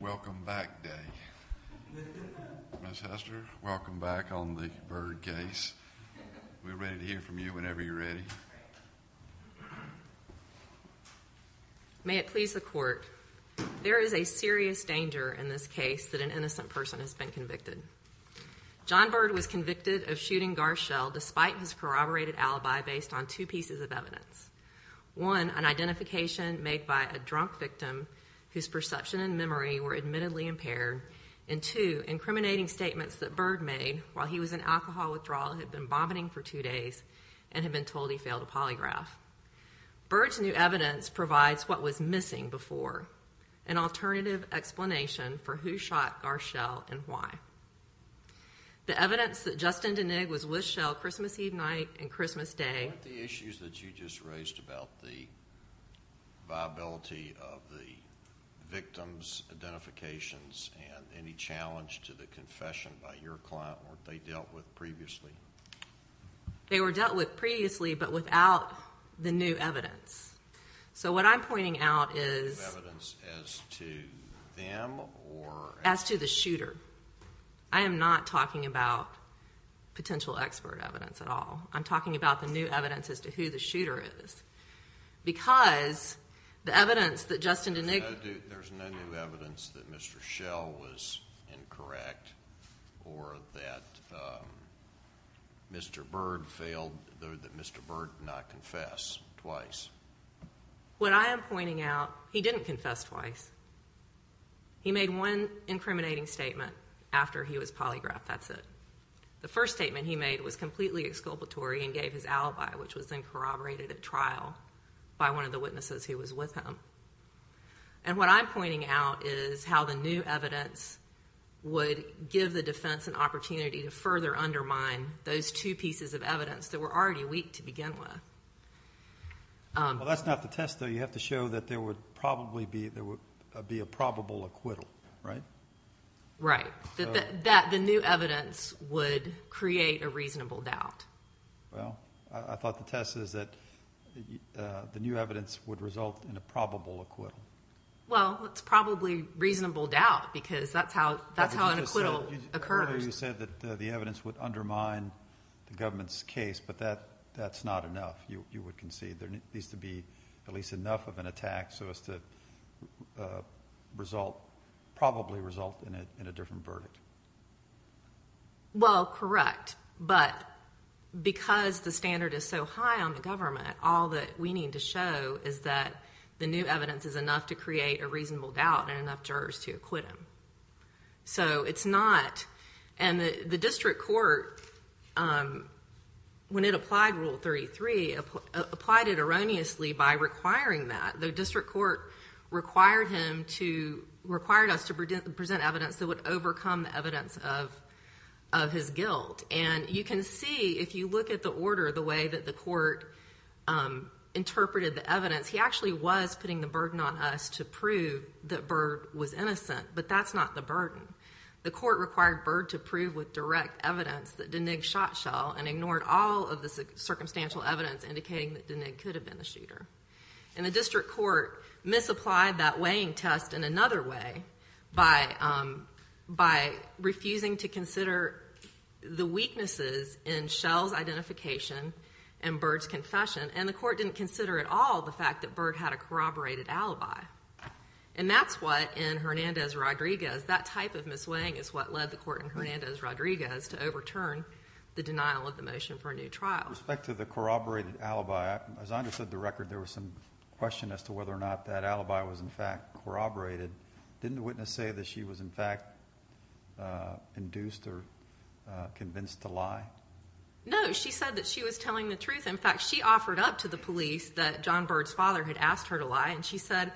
Welcome back, Dave. Ms. Hester, welcome back on the Bird case. We're ready to hear from you whenever you're ready. May it please the court, there is a serious danger in this case that an innocent person has been convicted. John Bird was convicted of shooting Garshel despite his corroborated alibi based on two pieces of evidence. One, an identification made by a drunk victim whose perception and memory were admittedly impaired. And two, incriminating statements that Bird made while he was in alcohol withdrawal had been vomiting for two days and had been told he failed a polygraph. Bird's new evidence provides what was missing before, an alternative explanation for who shot Garshel and why. The evidence that Justin Denig was with Shell Christmas Eve night and Christmas Day. What were the issues that you just raised about the viability of the victim's identifications and any challenge to the confession by your client weren't they dealt with previously? They were dealt with previously but without the new evidence. So what I'm pointing out is... New evidence as to them or... As to the shooter. I am not talking about potential expert evidence at all. I'm talking about the new evidence as to who the shooter is. Because the evidence that Justin Denig... There's no new evidence that Mr. Shell was incorrect or that Mr. Bird failed, that Mr. Bird did not confess twice. What I am pointing out, he didn't confess twice. He made one incriminating statement after he was polygraphed, that's it. The first statement he made was completely exculpatory and gave his alibi, which was then corroborated at trial by one of the witnesses who was with him. And what I'm pointing out is how the new evidence would give the defense an opportunity to further undermine those two pieces of evidence that were already weak to begin with. Well that's not the test though, you have to show that there would probably be a probable acquittal, right? Right. That the new evidence would create a reasonable doubt. Well, I thought the test is that the new evidence would result in a probable acquittal. Well, it's probably reasonable doubt because that's how an acquittal occurs. Earlier you said that the evidence would undermine the government's case, but that's not enough, you would concede. There needs to be at least enough of an attack so as to probably result in a different verdict. Well, correct. But because the standard is so high on the government, all that we need to show is that the new evidence is enough to create a reasonable doubt and enough jurors to acquit him. And the district court, when it applied Rule 33, applied it erroneously by requiring that. The district court required us to present evidence that would overcome the evidence of his guilt. And you can see if you look at the order, the way that the court interpreted the evidence, he actually was putting the burden on us to prove that Byrd was innocent, but that's not the burden. The court required Byrd to prove with direct evidence that Denig shot Schell and ignored all of the circumstantial evidence indicating that Denig could have been the shooter. And the district court misapplied that weighing test in another way by refusing to consider the weaknesses in Schell's identification and Byrd's confession. And the court didn't consider at all the fact that Byrd had a corroborated alibi. And that's what, in Hernandez-Rodriguez, that type of misweighing is what led the court in Hernandez-Rodriguez to overturn the denial of the motion for a new trial. With respect to the corroborated alibi, as I understood the record, there was some question as to whether or not that alibi was, in fact, corroborated. Didn't the witness say that she was, in fact, induced or convinced to lie? No, she said that she was telling the truth. In fact, she offered up to the police that John Byrd's father had asked her to lie. And she said,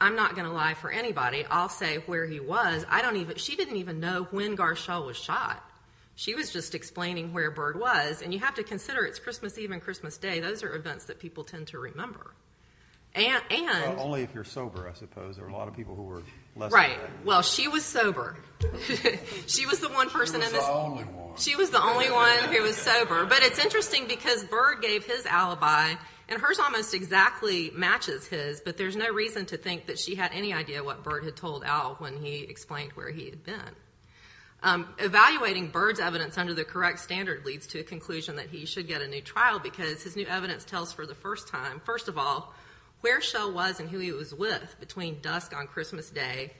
I'm not going to lie for anybody. I'll say where he was. She didn't even know when Gar Schell was shot. She was just explaining where Byrd was. And you have to consider it's Christmas Eve and Christmas Day. Those are events that people tend to remember. Only if you're sober, I suppose. There were a lot of people who were less sober. Right. Well, she was sober. She was the one person in this. She was the only one. She was the only one who was sober. But it's interesting because Byrd gave his alibi, and hers almost exactly matches his, but there's no reason to think that she had any idea what Byrd had told Al when he explained where he had been. Evaluating Byrd's evidence under the correct standard leads to a conclusion that he should get a new trial because his new evidence tells for the first time, first of all, where Schell was and who he was with between dusk on Christmas Day,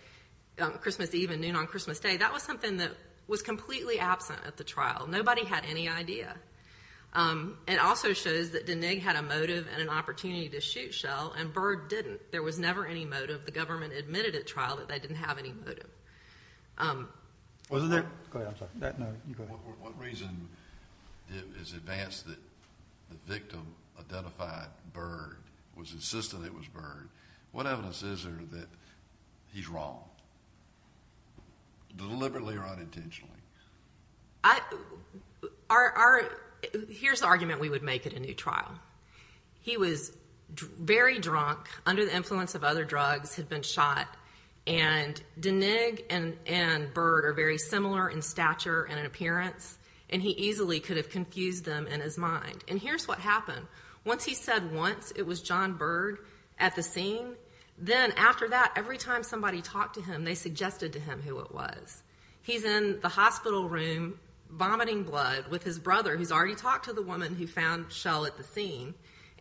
Christmas Eve and noon on Christmas Day. That was something that was completely absent at the trial. Nobody had any idea. It also shows that Denig had a motive and an opportunity to shoot Schell, and Byrd didn't. There was never any motive. The government admitted at trial that they didn't have any motive. Wasn't there? Go ahead, I'm sorry. No, you go ahead. What reason is advanced that the victim identified Byrd, was insistent it was Byrd? What evidence is there that he's wrong, deliberately or unintentionally? Here's the argument we would make at a new trial. He was very drunk, under the influence of other drugs, had been shot, and Denig and Byrd are very similar in stature and appearance, and he easily could have confused them in his mind. And here's what happened. Once he said once it was John Byrd at the scene, then after that, every time somebody talked to him, they suggested to him who it was. He's in the hospital room vomiting blood with his brother, who's already talked to the woman who found Schell at the scene,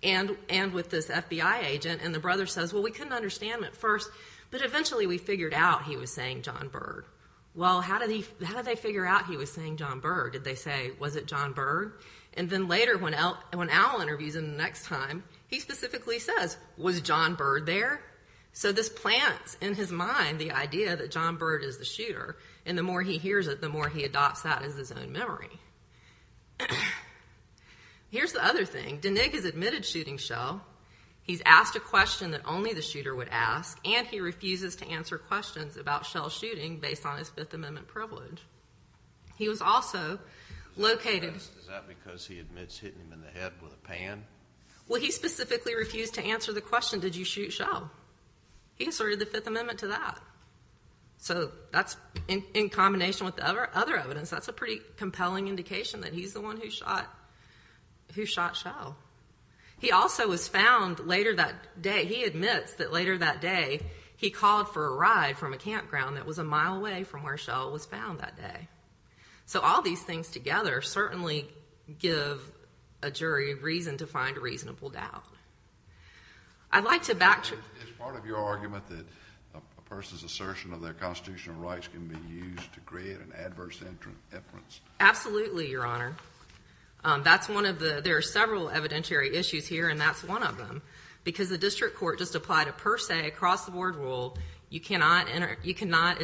and with this FBI agent, and the brother says, well, we couldn't understand it at first, but eventually we figured out he was saying John Byrd. Well, how did they figure out he was saying John Byrd? Did they say, was it John Byrd? And then later, when Al interviews him the next time, he specifically says, was John Byrd there? So this plants in his mind the idea that John Byrd is the shooter, and the more he hears it, the more he adopts that as his own memory. Here's the other thing. Denig has admitted shooting Schell. He's asked a question that only the shooter would ask, and he refuses to answer questions about Schell's shooting based on his Fifth Amendment privilege. He was also located. Is that because he admits hitting him in the head with a pan? Well, he specifically refused to answer the question, did you shoot Schell? He asserted the Fifth Amendment to that. So that's in combination with the other evidence. That's a pretty compelling indication that he's the one who shot Schell. He also was found later that day. He admits that later that day he called for a ride from a campground that was a mile away from where Schell was found that day. So all these things together certainly give a jury a reason to find reasonable doubt. I'd like to back to— Is part of your argument that a person's assertion of their constitutional rights can be used to create an adverse inference? Absolutely, Your Honor. There are several evidentiary issues here, and that's one of them, because the district court just applied a per se, across-the-board rule. It's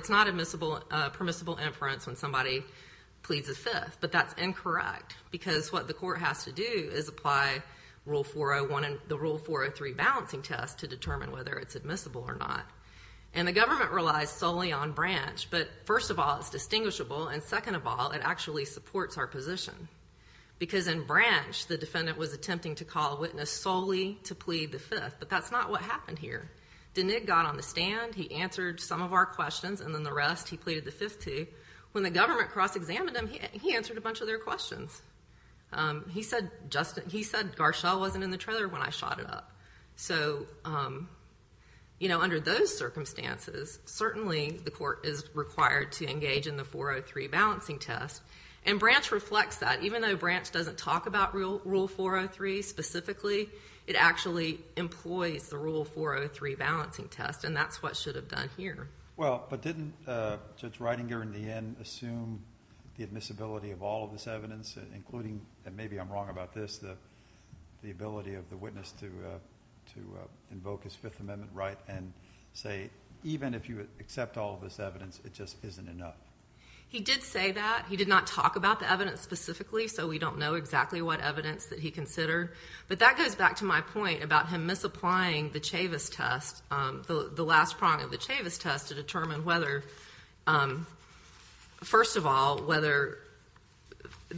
not a permissible inference when somebody pleads the Fifth, but that's incorrect, because what the court has to do is apply the Rule 403 balancing test to determine whether it's admissible or not. And the government relies solely on branch, but first of all, it's distinguishable, and second of all, it actually supports our position. Because in branch, the defendant was attempting to call a witness solely to plead the Fifth, but that's not what happened here. Denig got on the stand, he answered some of our questions, and then the rest he pleaded the Fifth to. When the government cross-examined him, he answered a bunch of their questions. He said Garshall wasn't in the trailer when I shot it up. So, you know, under those circumstances, certainly the court is required to engage in the 403 balancing test, and branch reflects that. Even though branch doesn't talk about Rule 403 specifically, it actually employs the Rule 403 balancing test, and that's what should have done here. Well, but didn't Judge Ridinger in the end assume the admissibility of all of this evidence, including, and maybe I'm wrong about this, the ability of the witness to invoke his Fifth Amendment right and say even if you accept all of this evidence, it just isn't enough? He did say that. He did not talk about the evidence specifically, so we don't know exactly what evidence that he considered. But that goes back to my point about him misapplying the Chavis test, the last prong of the Chavis test to determine whether, first of all, whether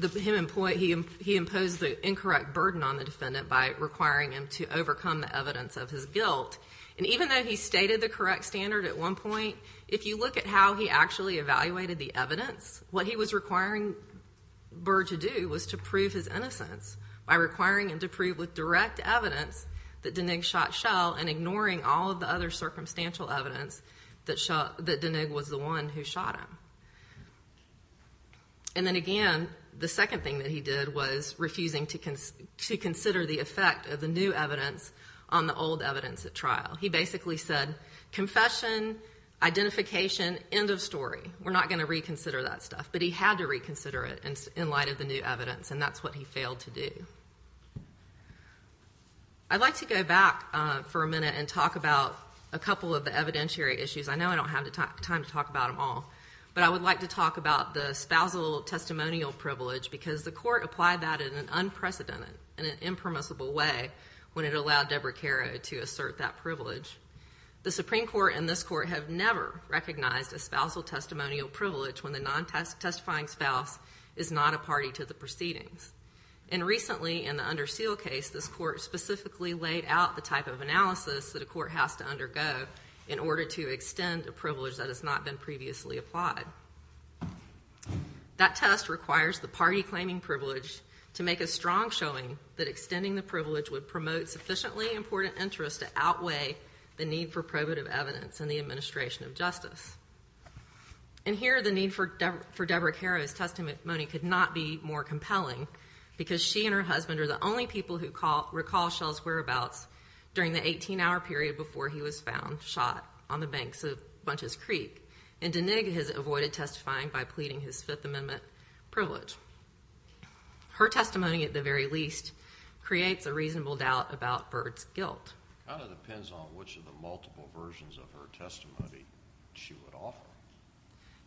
he imposed the incorrect burden on the defendant by requiring him to overcome the evidence of his guilt. And even though he stated the correct standard at one point, if you look at how he actually evaluated the evidence, what he was requiring Burr to do was to prove his innocence by requiring him to prove with direct evidence that Deneague shot Schell and ignoring all of the other circumstantial evidence that Deneague was the one who shot him. And then again, the second thing that he did was refusing to consider the effect of the new evidence on the old evidence at trial. He basically said confession, identification, end of story. We're not going to reconsider that stuff. But he had to reconsider it in light of the new evidence, and that's what he failed to do. I'd like to go back for a minute and talk about a couple of the evidentiary issues. I know I don't have time to talk about them all, but I would like to talk about the spousal testimonial privilege because the court applied that in an unprecedented and an impermissible way when it allowed Deborah Caro to assert that privilege. The Supreme Court and this court have never recognized a spousal testimonial privilege when the non-testifying spouse is not a party to the proceedings. And recently in the Under Seal case, this court specifically laid out the type of analysis that a court has to undergo in order to extend a privilege that has not been previously applied. That test requires the party claiming privilege to make a strong showing that extending the privilege would promote sufficiently important interest to outweigh the need for probative evidence in the administration of justice. And here the need for Deborah Caro's testimony could not be more compelling because she and her husband are the only people who recall Shell's whereabouts during the 18-hour period before he was found shot on the banks of Bunches Creek, and Denig has avoided testifying by pleading his Fifth Amendment privilege. Her testimony, at the very least, creates a reasonable doubt about Bird's guilt. It kind of depends on which of the multiple versions of her testimony she would offer.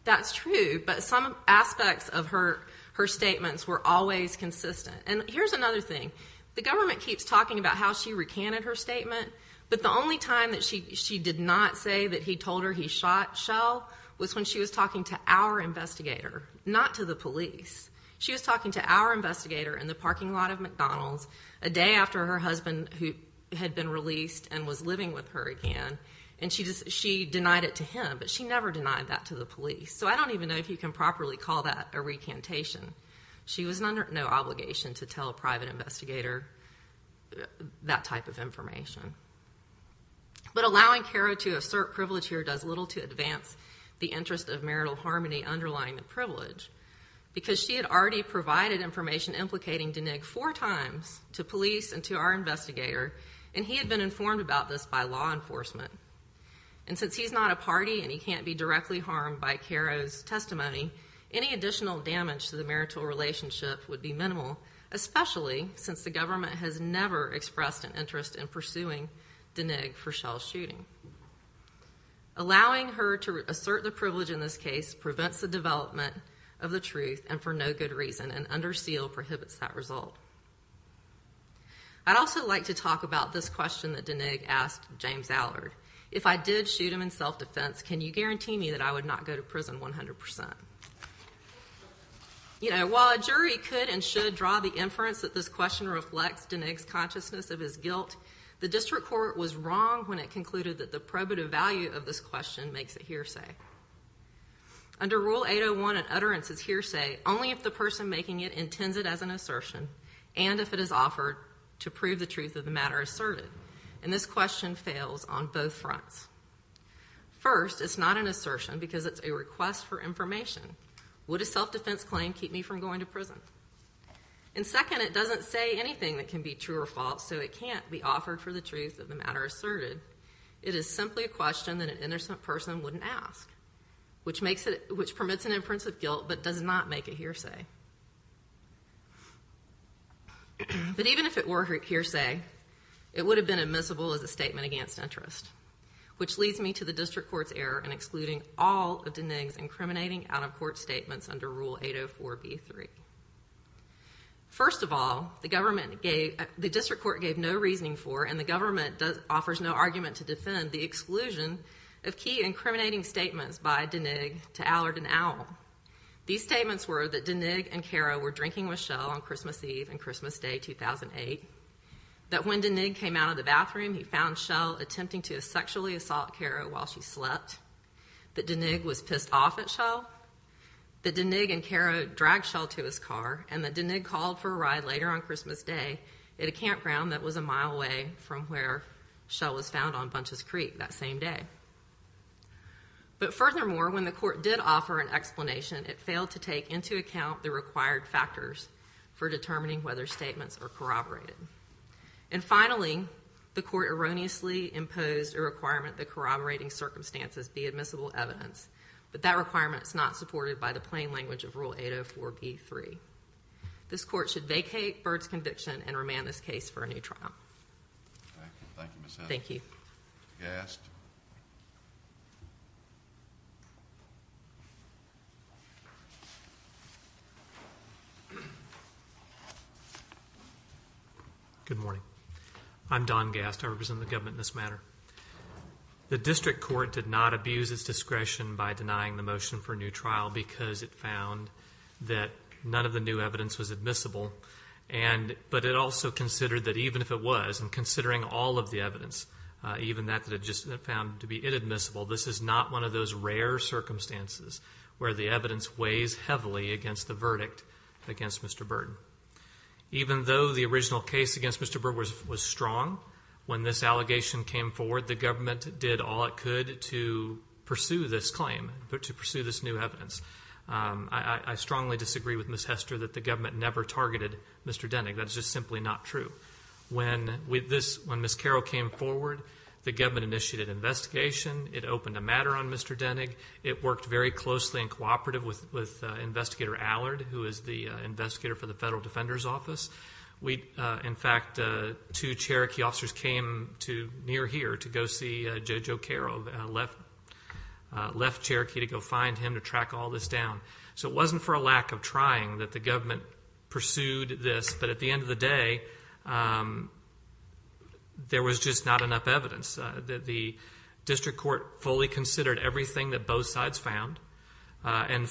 That's true, but some aspects of her statements were always consistent. And here's another thing. The government keeps talking about how she recanted her statement, but the only time that she did not say that he told her he shot Shell was when she was talking to our investigator, not to the police. She was talking to our investigator in the parking lot of McDonald's a day after her husband had been released and was living with her again, and she denied it to him, but she never denied that to the police. So I don't even know if you can properly call that a recantation. She was under no obligation to tell a private investigator that type of information. But allowing Caro to assert privilege here does little to advance the interest of marital harmony underlying the privilege because she had already provided information implicating Denig four times to police and to our investigator, and he had been informed about this by law enforcement. And since he's not a party and he can't be directly harmed by Caro's testimony, any additional damage to the marital relationship would be minimal, especially since the government has never expressed an interest in pursuing Denig for Shell's shooting. Allowing her to assert the privilege in this case prevents the development of the truth and for no good reason, and under seal prohibits that result. I'd also like to talk about this question that Denig asked James Allard. If I did shoot him in self-defense, can you guarantee me that I would not go to prison 100%? While a jury could and should draw the inference that this question reflects Denig's consciousness of his guilt, the district court was wrong when it concluded that the probative value of this question makes it hearsay. Under Rule 801, an utterance is hearsay only if the person making it intends it as an assertion and if it is offered to prove the truth of the matter asserted, and this question fails on both fronts. First, it's not an assertion because it's a request for information. Would a self-defense claim keep me from going to prison? And second, it doesn't say anything that can be true or false, so it can't be offered for the truth of the matter asserted. It is simply a question that an innocent person wouldn't ask, which permits an inference of guilt but does not make it hearsay. But even if it were hearsay, it would have been admissible as a statement against interest, which leads me to the district court's error in excluding all of Denig's incriminating out-of-court statements under Rule 804b-3. First of all, the district court gave no reasoning for and the government offers no argument to defend the exclusion of key incriminating statements by Denig to Allard and Owl. These statements were that Denig and Caro were drinking with Shell on Christmas Eve and Christmas Day 2008, that when Denig came out of the bathroom, he found Shell attempting to sexually assault Caro while she slept, that Denig was pissed off at Shell, that Denig and Caro dragged Shell to his car, and that Denig called for a ride later on Christmas Day at a campground that was a mile away from where Shell was found on Bunches Creek that same day. But furthermore, when the court did offer an explanation, it failed to take into account the required factors for determining whether statements are corroborated. And finally, the court erroneously imposed a requirement that corroborating circumstances be admissible evidence, but that requirement is not supported by the plain language of Rule 804b-3. This court should vacate Byrd's conviction and remand this case for a new trial. Thank you, Ms. Evans. Thank you. Gast. Good morning. I'm Don Gast. I represent the government in this matter. The district court did not abuse its discretion by denying the motion for a new trial because it found that none of the new evidence was admissible, but it also considered that even if it was, and considering all of the evidence, even that it just found to be inadmissible, this is not one of those rare circumstances where the evidence weighs heavily against the verdict against Mr. Byrd. Even though the original case against Mr. Byrd was strong, when this allegation came forward the government did all it could to pursue this claim, to pursue this new evidence. I strongly disagree with Ms. Hester that the government never targeted Mr. Denig. That is just simply not true. When Ms. Carroll came forward, the government initiated an investigation. It opened a matter on Mr. Denig. It worked very closely and cooperatively with Investigator Allard, who is the investigator for the Federal Defender's Office. In fact, two Cherokee officers came near here to go see Judge O'Carroll, left Cherokee to go find him to track all this down. So it wasn't for a lack of trying that the government pursued this, but at the end of the day there was just not enough evidence. The district court fully considered everything that both sides found and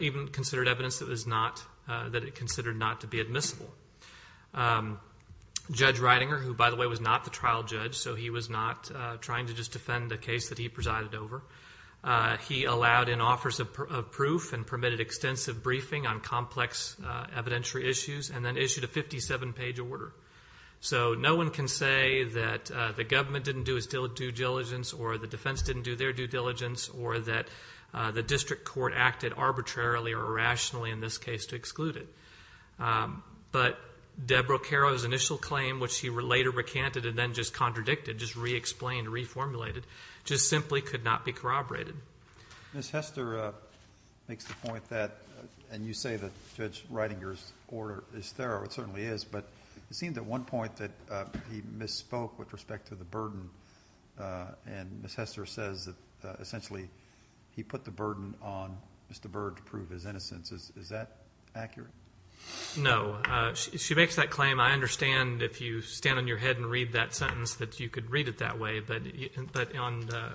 even considered evidence that it considered not to be admissible. Judge Reidinger, who by the way was not the trial judge, so he was not trying to just defend a case that he presided over, he allowed in offers of proof and permitted extensive briefing on complex evidentiary issues and then issued a 57-page order. So no one can say that the government didn't do its due diligence or the defense didn't do their due diligence or that the district court acted arbitrarily or irrationally in this case to exclude it. But Deborah Carroll's initial claim, which she later recanted and then just contradicted, just re-explained, reformulated, just simply could not be corroborated. Ms. Hester makes the point that, and you say that Judge Reidinger's order is thorough. It certainly is, but it seems at one point that he misspoke with respect to the burden, and Ms. Hester says that essentially he put the burden on Mr. Byrd to prove his innocence. Is that accurate? No. She makes that claim. I understand if you stand on your head and read that sentence that you could read it that way, but on the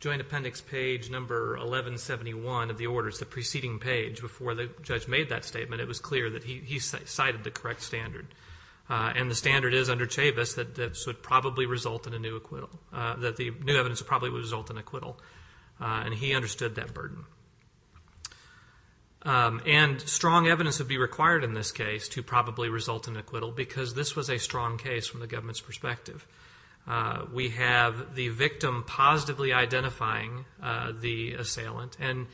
joint appendix page number 1171 of the order, it's the preceding page before the judge made that statement, it was clear that he cited the correct standard, and the standard is under Chavis that this would probably result in a new acquittal, that the new evidence would probably result in acquittal, and he understood that burden. And strong evidence would be required in this case to probably result in acquittal because this was a strong case from the government's perspective. We have the victim positively identifying the assailant and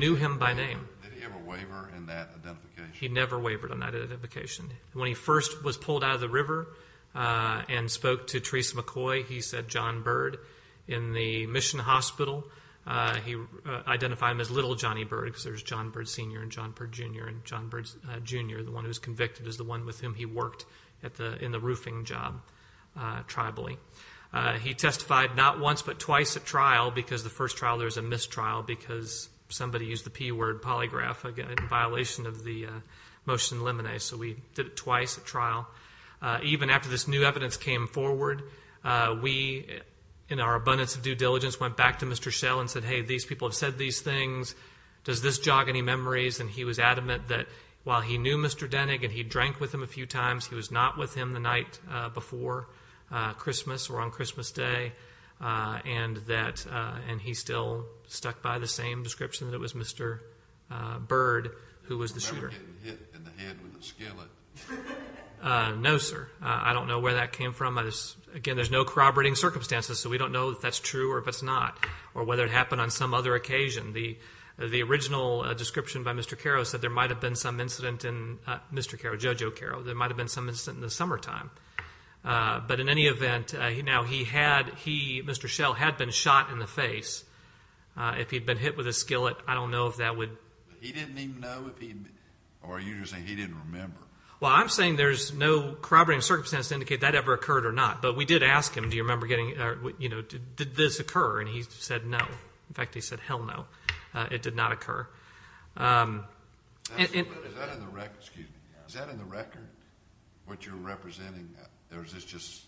knew him by name. Did he ever waver in that identification? He never wavered on that identification. When he first was pulled out of the river and spoke to Theresa McCoy, he said John Byrd. In the mission hospital, he identified him as Little Johnny Byrd because there's John Byrd Sr. and John Byrd Jr. and John Byrd Jr., the one who was convicted, is the one with whom he worked in the roofing job tribally. He testified not once but twice at trial because the first trial there was a mistrial because somebody used the P word, polygraph, in violation of the motion limine. So we did it twice at trial. Even after this new evidence came forward, we, in our abundance of due diligence, went back to Mr. Schell and said, hey, these people have said these things. Does this jog any memories? And he was adamant that while he knew Mr. Denig and he drank with him a few times, he was not with him the night before Christmas or on Christmas Day, and he still stuck by the same description that it was Mr. Byrd who was the shooter. He was never getting hit in the head with a skillet? No, sir. I don't know where that came from. Again, there's no corroborating circumstances, so we don't know if that's true or if it's not or whether it happened on some other occasion. The original description by Mr. Carrow said there might have been some incident in Mr. Carrow, Joe Joe Carrow, there might have been some incident in the summertime. But in any event, now he had, he, Mr. Schell, had been shot in the face. If he had been hit with a skillet, I don't know if that would. He didn't even know if he, or are you just saying he didn't remember? Well, I'm saying there's no corroborating circumstances to indicate that ever occurred or not. But we did ask him, do you remember getting, you know, did this occur? And he said no. In fact, he said hell no. It did not occur. Is that in the record, what you're representing? Or is this just?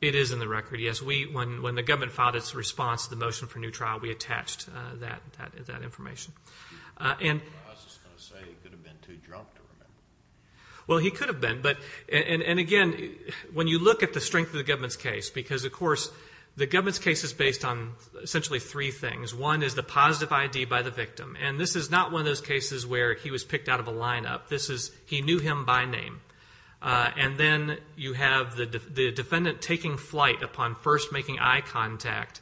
It is in the record, yes. When the government filed its response to the motion for a new trial, we attached that information. I was just going to say he could have been too drunk to remember. Well, he could have been. And again, when you look at the strength of the government's case, because, of course, the government's case is based on essentially three things. One is the positive ID by the victim. And this is not one of those cases where he was picked out of a lineup. This is he knew him by name. And then you have the defendant taking flight upon first making eye contact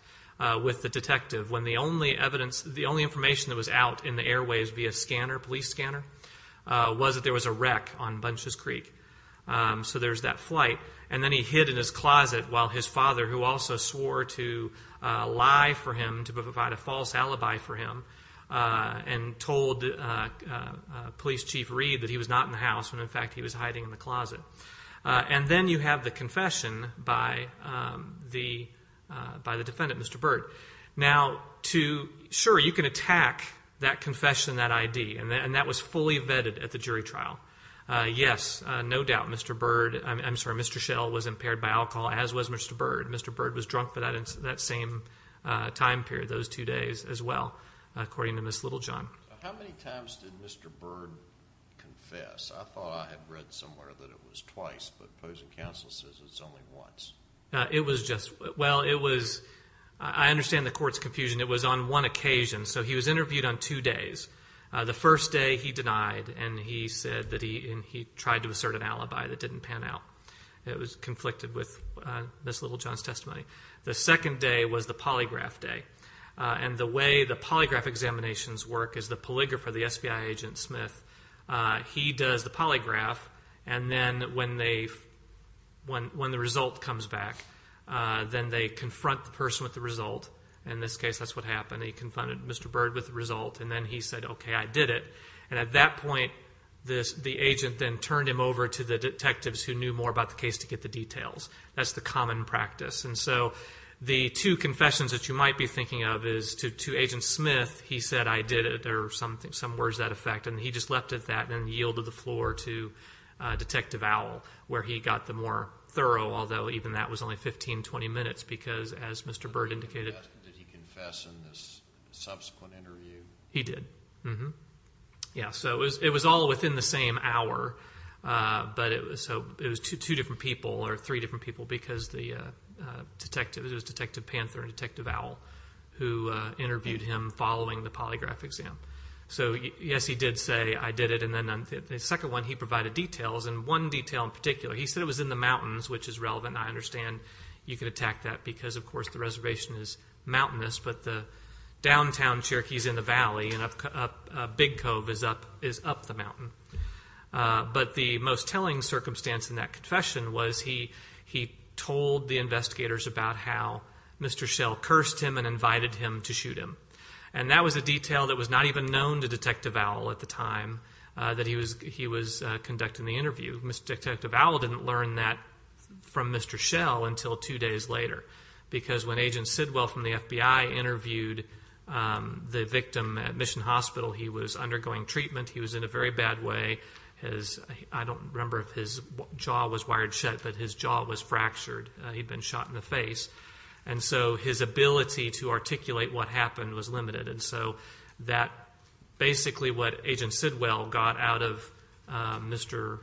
with the detective when the only evidence, the only information that was out in the airwaves via scanner, police scanner, was that there was a wreck on Bunches Creek. So there's that flight. And then he hid in his closet while his father, who also swore to lie for him, to provide a false alibi for him, and told Police Chief Reed that he was not in the house when, in fact, he was hiding in the closet. And then you have the confession by the defendant, Mr. Bird. Now, sure, you can attack that confession, that ID, and that was fully vetted at the jury trial. Yes, no doubt Mr. Bird, I'm sorry, Mr. Schell was impaired by alcohol, as was Mr. Bird. Mr. Bird was drunk for that same time period, those two days as well, according to Ms. Littlejohn. How many times did Mr. Bird confess? I thought I had read somewhere that it was twice, but opposing counsel says it's only once. It was just, well, it was, I understand the court's confusion. It was on one occasion. So he was interviewed on two days. The first day he denied, and he said that he tried to assert an alibi that didn't pan out. It was conflicted with Ms. Littlejohn's testimony. The second day was the polygraph day. And the way the polygraph examinations work is the polygrapher, the SBI agent, Smith, he does the polygraph, and then when the result comes back, then they confront the person with the result. In this case, that's what happened. They confronted Mr. Bird with the result, and then he said, okay, I did it. And at that point, the agent then turned him over to the detectives who knew more about the case to get the details. That's the common practice. And so the two confessions that you might be thinking of is to Agent Smith, he said, I did it, or some words to that effect. And he just left it at that and then yielded the floor to Detective Owl, where he got the more thorough, although even that was only 15, 20 minutes because, as Mr. Bird indicated. Did he confess in this subsequent interview? He did. Yeah, so it was all within the same hour, but it was two different people or three different people because it was Detective Panther and Detective Owl who interviewed him following the polygraph exam. So, yes, he did say, I did it. And then the second one, he provided details. And one detail in particular, he said it was in the mountains, which is relevant. I understand you could attack that because, of course, the reservation is mountainous, but the downtown Cherokee is in the valley and Big Cove is up the mountain. But the most telling circumstance in that confession was he told the investigators about how Mr. Shell cursed him and invited him to shoot him. And that was a detail that was not even known to Detective Owl at the time that he was conducting the interview. Mr. Detective Owl didn't learn that from Mr. Shell until two days later because when Agent Sidwell from the FBI interviewed the victim at Mission Hospital, he was undergoing treatment. He was in a very bad way. I don't remember if his jaw was wired shut, but his jaw was fractured. He'd been shot in the face. And so his ability to articulate what happened was limited. And so that basically what Agent Sidwell got out of Mr.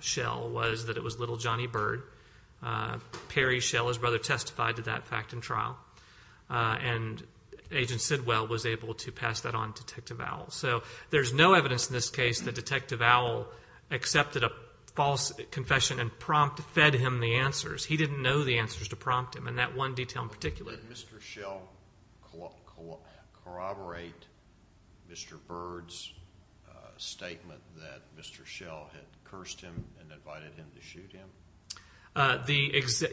Shell was that it was little Johnny Bird. Perry Shell, his brother, testified to that fact in trial. And Agent Sidwell was able to pass that on to Detective Owl. So there's no evidence in this case that Detective Owl accepted a false confession and fed him the answers. He didn't know the answers to prompt him, and that one detail in particular. Did Mr. Shell corroborate Mr. Bird's statement that Mr. Shell had cursed him and invited him to shoot him?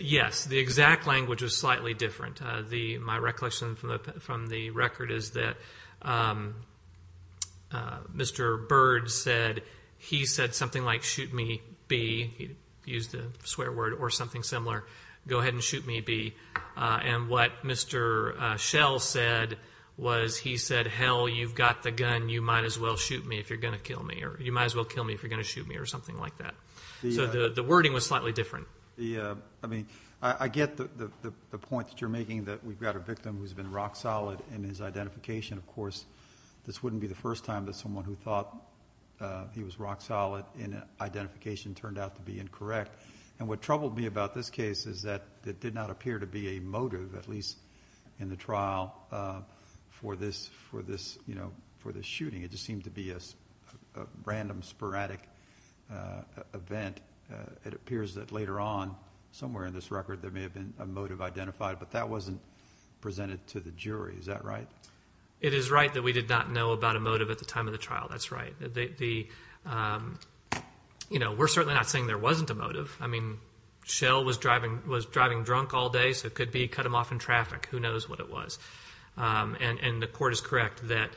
Yes. The exact language was slightly different. My recollection from the record is that Mr. Bird said something like, go ahead and shoot me, B. And what Mr. Shell said was he said, hell, you've got the gun, you might as well shoot me if you're going to kill me, or you might as well kill me if you're going to shoot me, or something like that. So the wording was slightly different. I mean, I get the point that you're making, that we've got a victim who's been rock solid in his identification. Of course, this wouldn't be the first time that someone who thought he was rock solid in identification turned out to be incorrect. And what troubled me about this case is that it did not appear to be a motive, at least in the trial, for this shooting. It just seemed to be a random, sporadic event. It appears that later on, somewhere in this record, there may have been a motive identified, but that wasn't presented to the jury. Is that right? It is right that we did not know about a motive at the time of the trial. That's right. We're certainly not saying there wasn't a motive. I mean, Schell was driving drunk all day, so it could be cut him off in traffic. Who knows what it was. And the court is correct that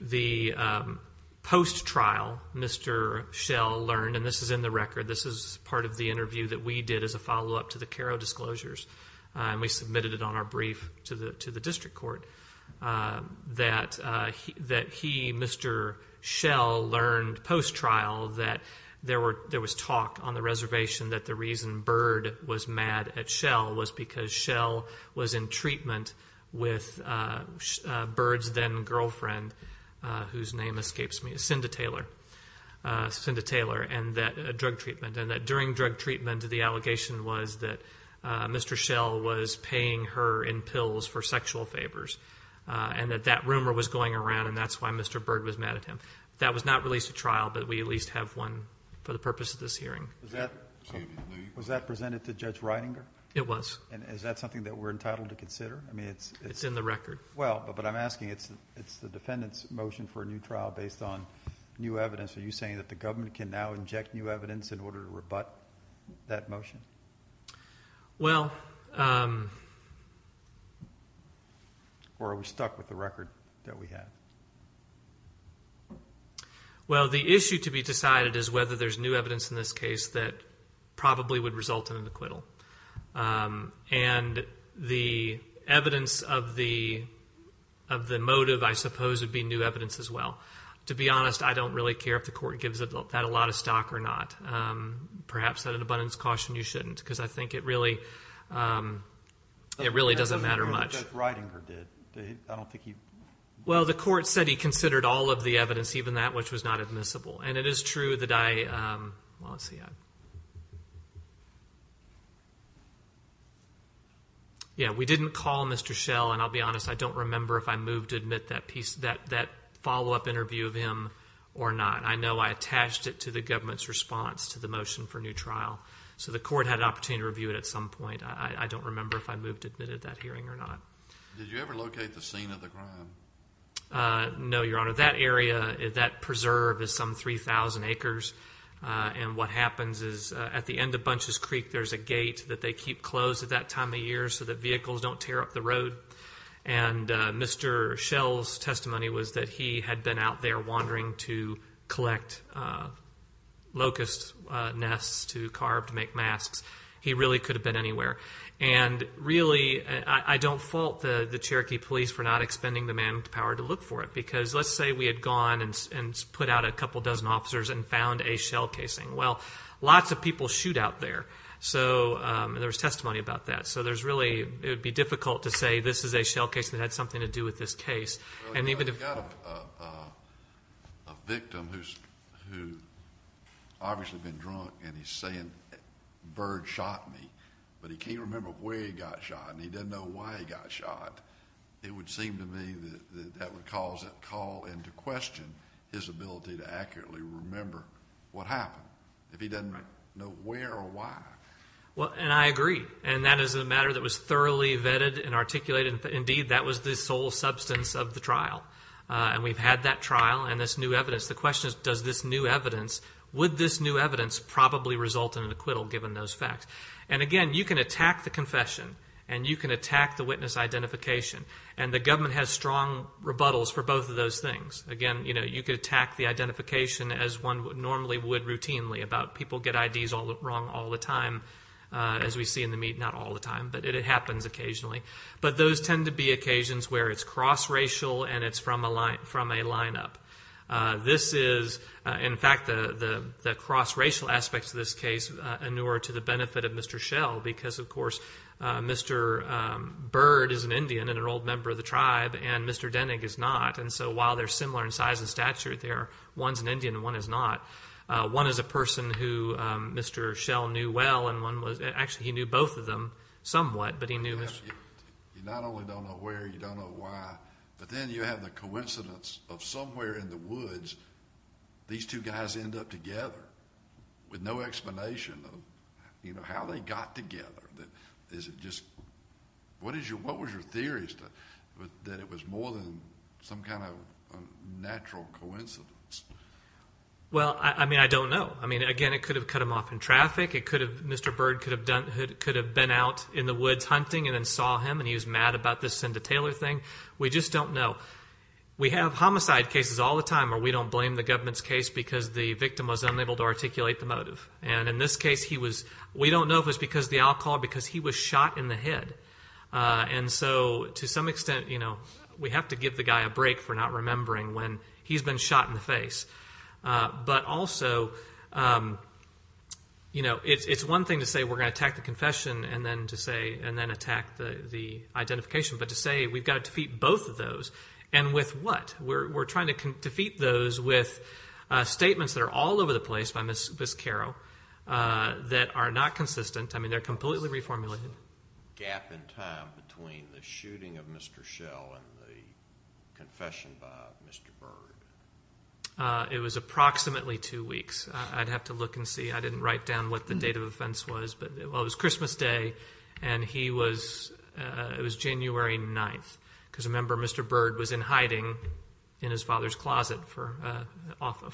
the post-trial, Mr. Schell learned, and this is in the record, this is part of the interview that we did as a follow-up to the Caro disclosures, and we submitted it on our brief to the district court, that he, Mr. Schell, learned post-trial that there was talk on the reservation that the reason Bird was mad at Schell was because Schell was in treatment with Bird's then-girlfriend, whose name escapes me, Cinda Taylor, and that drug treatment. And that during drug treatment, the allegation was that Mr. Schell was paying her in pills for sexual favors, and that that rumor was going around, and that's why Mr. Bird was mad at him. That was not released at trial, but we at least have one for the purpose of this hearing. Was that presented to Judge Reidinger? It was. And is that something that we're entitled to consider? It's in the record. Well, but I'm asking, it's the defendant's motion for a new trial based on new evidence. Are you saying that the government can now inject new evidence in order to rebut that motion? Well. Or are we stuck with the record that we have? Well, the issue to be decided is whether there's new evidence in this case that probably would result in an acquittal. And the evidence of the motive, I suppose, would be new evidence as well. To be honest, I don't really care if the court gives that a lot of stock or not. Perhaps at an abundance caution, you shouldn't, because I think it really doesn't matter much. Judge Reidinger did. I don't think he. Well, the court said he considered all of the evidence, even that which was not admissible. And it is true that I, well, let's see. Yeah, we didn't call Mr. Schell. And I'll be honest, I don't remember if I moved to admit that piece, that follow-up interview of him or not. I know I attached it to the government's response to the motion for a new trial. So the court had an opportunity to review it at some point. I don't remember if I moved to admit it at that hearing or not. Did you ever locate the scene of the crime? No, Your Honor. Your Honor, that area, that preserve is some 3,000 acres. And what happens is at the end of Bunches Creek, there's a gate that they keep closed at that time of year so that vehicles don't tear up the road. And Mr. Schell's testimony was that he had been out there wandering to collect locust nests to carve to make masks. He really could have been anywhere. And really, I don't fault the Cherokee police for not expending the manpower to look for it. Because let's say we had gone and put out a couple dozen officers and found a Schell casing. Well, lots of people shoot out there. So there was testimony about that. So there's really, it would be difficult to say this is a Schell case that had something to do with this case. Well, if you've got a victim who's obviously been drunk and he's saying, Bird shot me, but he can't remember where he got shot and he doesn't know why he got shot, it would seem to me that that would call into question his ability to accurately remember what happened. If he doesn't know where or why. And I agree. And that is a matter that was thoroughly vetted and articulated. Indeed, that was the sole substance of the trial. And we've had that trial and this new evidence. The question is, does this new evidence, would this new evidence probably result in an acquittal given those facts? And again, you can attack the confession and you can attack the witness identification. And the government has strong rebuttals for both of those things. Again, you could attack the identification as one normally would routinely about people get IDs wrong all the time. As we see in the meat, not all the time, but it happens occasionally. But those tend to be occasions where it's cross-racial and it's from a lineup. This is, in fact, the cross-racial aspects of this case are newer to the benefit of Mr. Schell, because, of course, Mr. Bird is an Indian and an old member of the tribe and Mr. Denig is not. And so while they're similar in size and stature, one's an Indian and one is not. One is a person who Mr. Schell knew well and one was, actually he knew both of them somewhat, but he knew Mr. Denig. You not only don't know where, you don't know why, but then you have the coincidence of somewhere in the woods these two guys end up together with no explanation of how they got together. What was your theory is that it was more than some kind of natural coincidence? Well, I mean, I don't know. I mean, again, it could have cut them off in traffic. It could have, Mr. Bird could have been out in the woods hunting and then saw him and he was mad about this Cinda Taylor thing. We just don't know. We have homicide cases all the time where we don't blame the government's case because the victim was unable to articulate the motive. And in this case he was, we don't know if it was because of the alcohol or because he was shot in the head. And so to some extent, you know, we have to give the guy a break for not remembering when he's been shot in the face. But also, you know, it's one thing to say we're going to attack the confession and then attack the identification, but to say we've got to defeat both of those. And with what? We're trying to defeat those with statements that are all over the place by Ms. Carroll that are not consistent. I mean, they're completely reformulated. Was there a gap in time between the shooting of Mr. Schell and the confession by Mr. Bird? It was approximately two weeks. I'd have to look and see. I didn't write down what the date of offense was, but it was Christmas Day and he was, it was January 9th. Because remember, Mr. Bird was in hiding in his father's closet for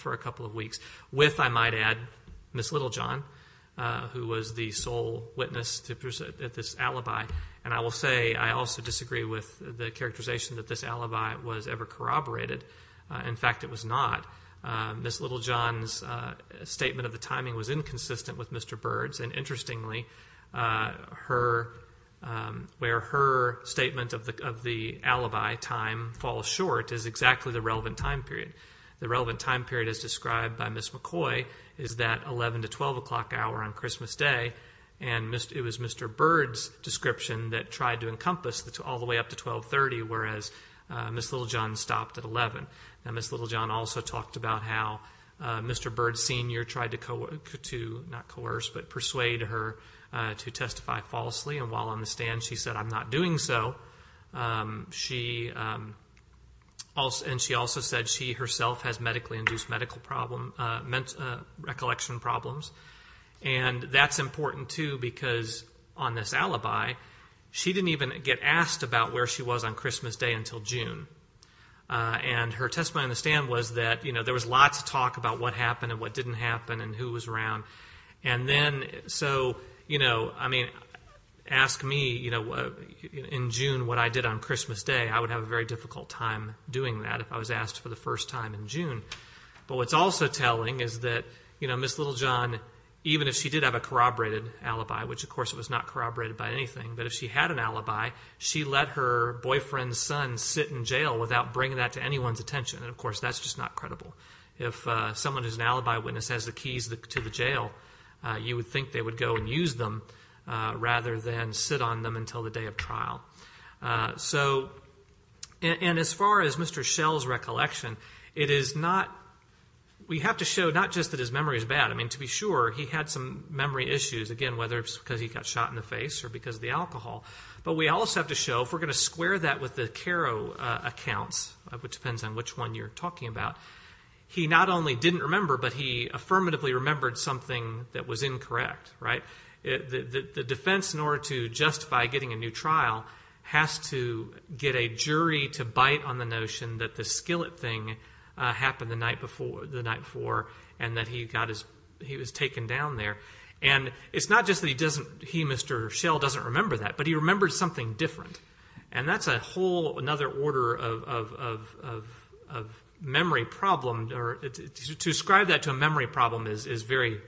a couple of weeks with, I might add, Ms. Littlejohn, who was the sole witness at this alibi. And I will say I also disagree with the characterization that this alibi was ever corroborated. In fact, it was not. Ms. Littlejohn's statement of the timing was inconsistent with Mr. Bird's. And interestingly, where her statement of the alibi time falls short is exactly the relevant time period. The relevant time period as described by Ms. McCoy is that 11 to 12 o'clock hour on Christmas Day. And it was Mr. Bird's description that tried to encompass all the way up to 1230, whereas Ms. Littlejohn stopped at 11. And Ms. Littlejohn also talked about how Mr. Bird Sr. tried to, not coerce, but persuade her to testify falsely. And while on the stand, she said, I'm not doing so. And she also said she herself has medically-induced recollection problems. And that's important, too, because on this alibi, she didn't even get asked about where she was on Christmas Day until June. And her testimony on the stand was that there was lots of talk about what happened and what didn't happen and who was around. And then, so, you know, I mean, ask me, you know, in June what I did on Christmas Day, I would have a very difficult time doing that if I was asked for the first time in June. But what's also telling is that, you know, Ms. Littlejohn, even if she did have a corroborated alibi, which, of course, it was not corroborated by anything, but if she had an alibi, she let her boyfriend's son sit in jail without bringing that to anyone's attention. And, of course, that's just not credible. If someone who's an alibi witness has the keys to the jail, you would think they would go and use them rather than sit on them until the day of trial. So, and as far as Mr. Schell's recollection, it is not, we have to show not just that his memory is bad. I mean, to be sure, he had some memory issues, again, whether it's because he got shot in the face or because of the alcohol. But we also have to show, if we're going to square that with the Caro accounts, which depends on which one you're talking about, he not only didn't remember, but he affirmatively remembered something that was incorrect, right? The defense, in order to justify getting a new trial, has to get a jury to bite on the notion that the skillet thing happened the night before and that he got his, he was taken down there. And it's not just that he doesn't, he, Mr. Schell, doesn't remember that, but he remembers something different. And that's a whole another order of memory problem, or to ascribe that to a memory problem is very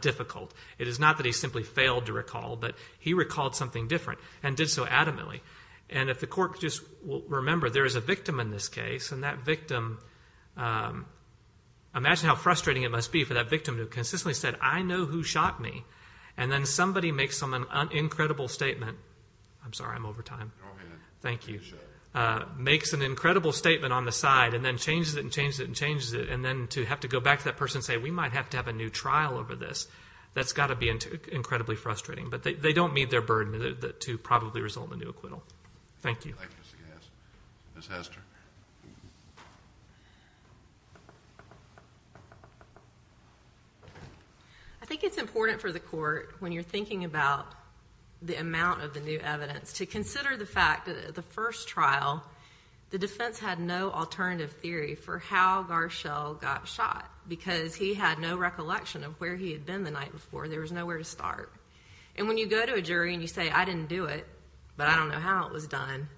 difficult. It is not that he simply failed to recall, but he recalled something different and did so adamantly. And if the court just will remember there is a victim in this case, and that victim, imagine how frustrating it must be for that victim who consistently said, I know who shot me. And then somebody makes an incredible statement. I'm sorry, I'm over time. Thank you. Makes an incredible statement on the side and then changes it and changes it and changes it. And then to have to go back to that person and say, we might have to have a new trial over this, that's got to be incredibly frustrating. But they don't meet their burden to probably result in a new acquittal. Thank you. Thank you, Mr. Gass. Ms. Hester. I think it's important for the court, when you're thinking about the amount of the new evidence, to consider the fact that at the first trial the defense had no alternative theory for how Garshell got shot, because he had no recollection of where he had been the night before. There was nowhere to start. And when you go to a jury and you say, I didn't do it, but I don't know how it was done,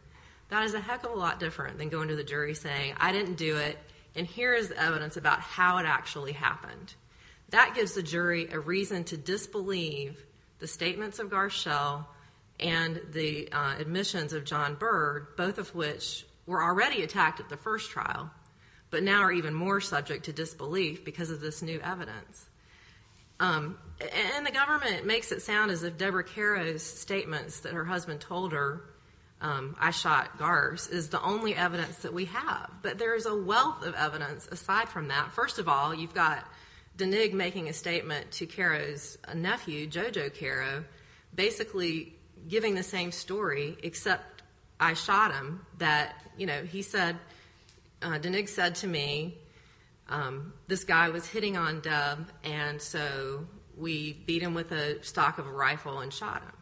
that is a heck of a lot different than going to the jury and saying, I didn't do it, and here is evidence about how it actually happened. That gives the jury a reason to disbelieve the statements of Garshell and the admissions of John Byrd, both of which were already attacked at the first trial, but now are even more subject to disbelief because of this new evidence. And the government makes it sound as if Deborah Caro's statements that her husband told her, I shot Gars, is the only evidence that we have. But there is a wealth of evidence aside from that. First of all, you've got Deneig making a statement to Caro's nephew, Jojo Caro, basically giving the same story, except I shot him, that, you know, he said, Deneig said to me, this guy was hitting on Deb, and so we beat him with a stock of a rifle and shot him.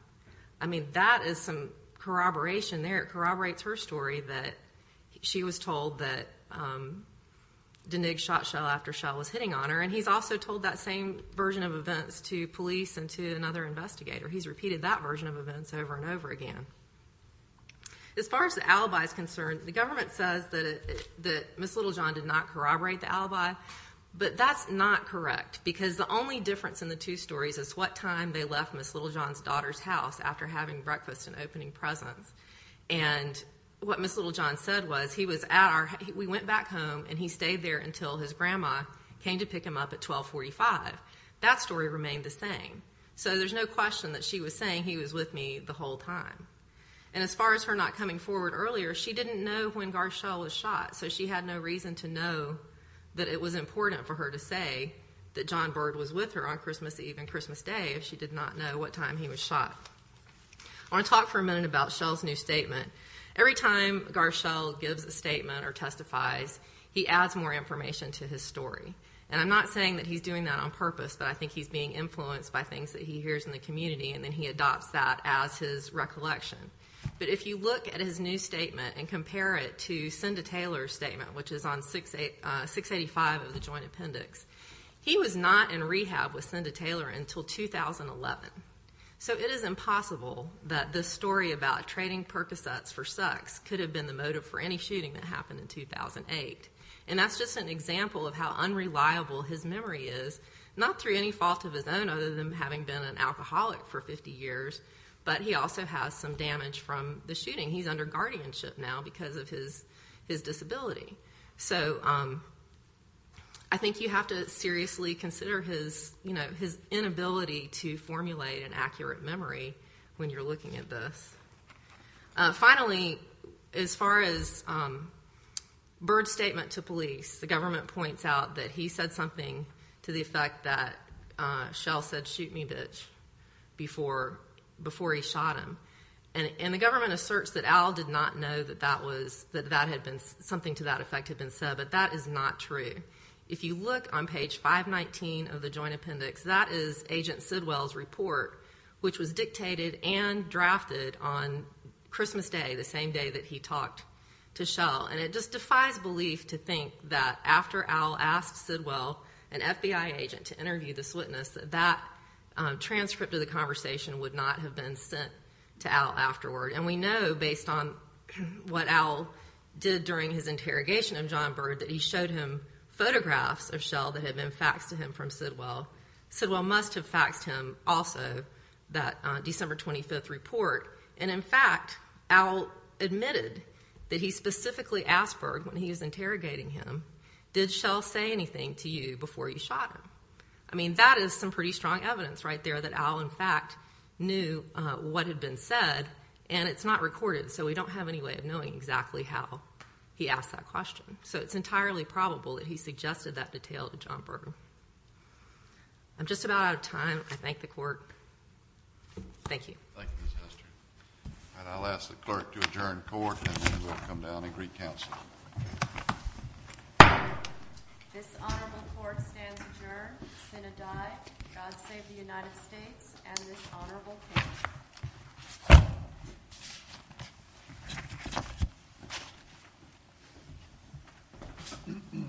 I mean, that is some corroboration there. It corroborates her story that she was told that Deneig shot Shell after Shell was hitting on her, and he's also told that same version of events to police and to another investigator. He's repeated that version of events over and over again. As far as the alibi is concerned, the government says that Miss Littlejohn did not corroborate the alibi, but that's not correct because the only difference in the two stories is what time they left Miss Littlejohn's daughter's house after having breakfast and opening presents. And what Miss Littlejohn said was he was at our ‑‑ we went back home, and he stayed there until his grandma came to pick him up at 1245. That story remained the same. So there's no question that she was saying he was with me the whole time. And as far as her not coming forward earlier, she didn't know when Gar Shell was shot, so she had no reason to know that it was important for her to say that John Byrd was with her on Christmas Eve and Christmas Day if she did not know what time he was shot. I want to talk for a minute about Shell's new statement. Every time Gar Shell gives a statement or testifies, he adds more information to his story. And I'm not saying that he's doing that on purpose, but I think he's being influenced by things that he hears in the community, and then he adopts that as his recollection. But if you look at his new statement and compare it to Cinda Taylor's statement, which is on 685 of the Joint Appendix, he was not in rehab with Cinda Taylor until 2011. So it is impossible that this story about trading Percocets for sex could have been the motive for any shooting that happened in 2008. And that's just an example of how unreliable his memory is, not through any fault of his own other than having been an alcoholic for 50 years, but he also has some damage from the shooting. He's under guardianship now because of his disability. So I think you have to seriously consider his inability to formulate an accurate memory when you're looking at this. Finally, as far as Byrd's statement to police, the government points out that he said something to the effect that Shell said, shoot me, bitch, before he shot him. And the government asserts that Al did not know that something to that effect had been said, but that is not true. If you look on page 519 of the Joint Appendix, that is Agent Sidwell's report, which was dictated and drafted on Christmas Day, the same day that he talked to Shell. And it just defies belief to think that after Al asked Sidwell, an FBI agent, to interview this witness, that that transcript of the conversation would not have been sent to Al afterward. And we know, based on what Al did during his interrogation of John Byrd, that he showed him photographs of Shell that had been faxed to him from Sidwell. Sidwell must have faxed him also that December 25th report. And, in fact, Al admitted that he specifically asked Byrd, when he was interrogating him, did Shell say anything to you before you shot him? I mean, that is some pretty strong evidence right there that Al, in fact, knew what had been said. And it's not recorded, so we don't have any way of knowing exactly how he asked that question. So it's entirely probable that he suggested that detail to John Byrd. I'm just about out of time. I thank the court. Thank you. Thank you, Ms. Hester. And I'll ask the clerk to adjourn court, and then we'll come down and agree counsel. This honorable court stands adjourned. The Senate died. God save the United States and this honorable court.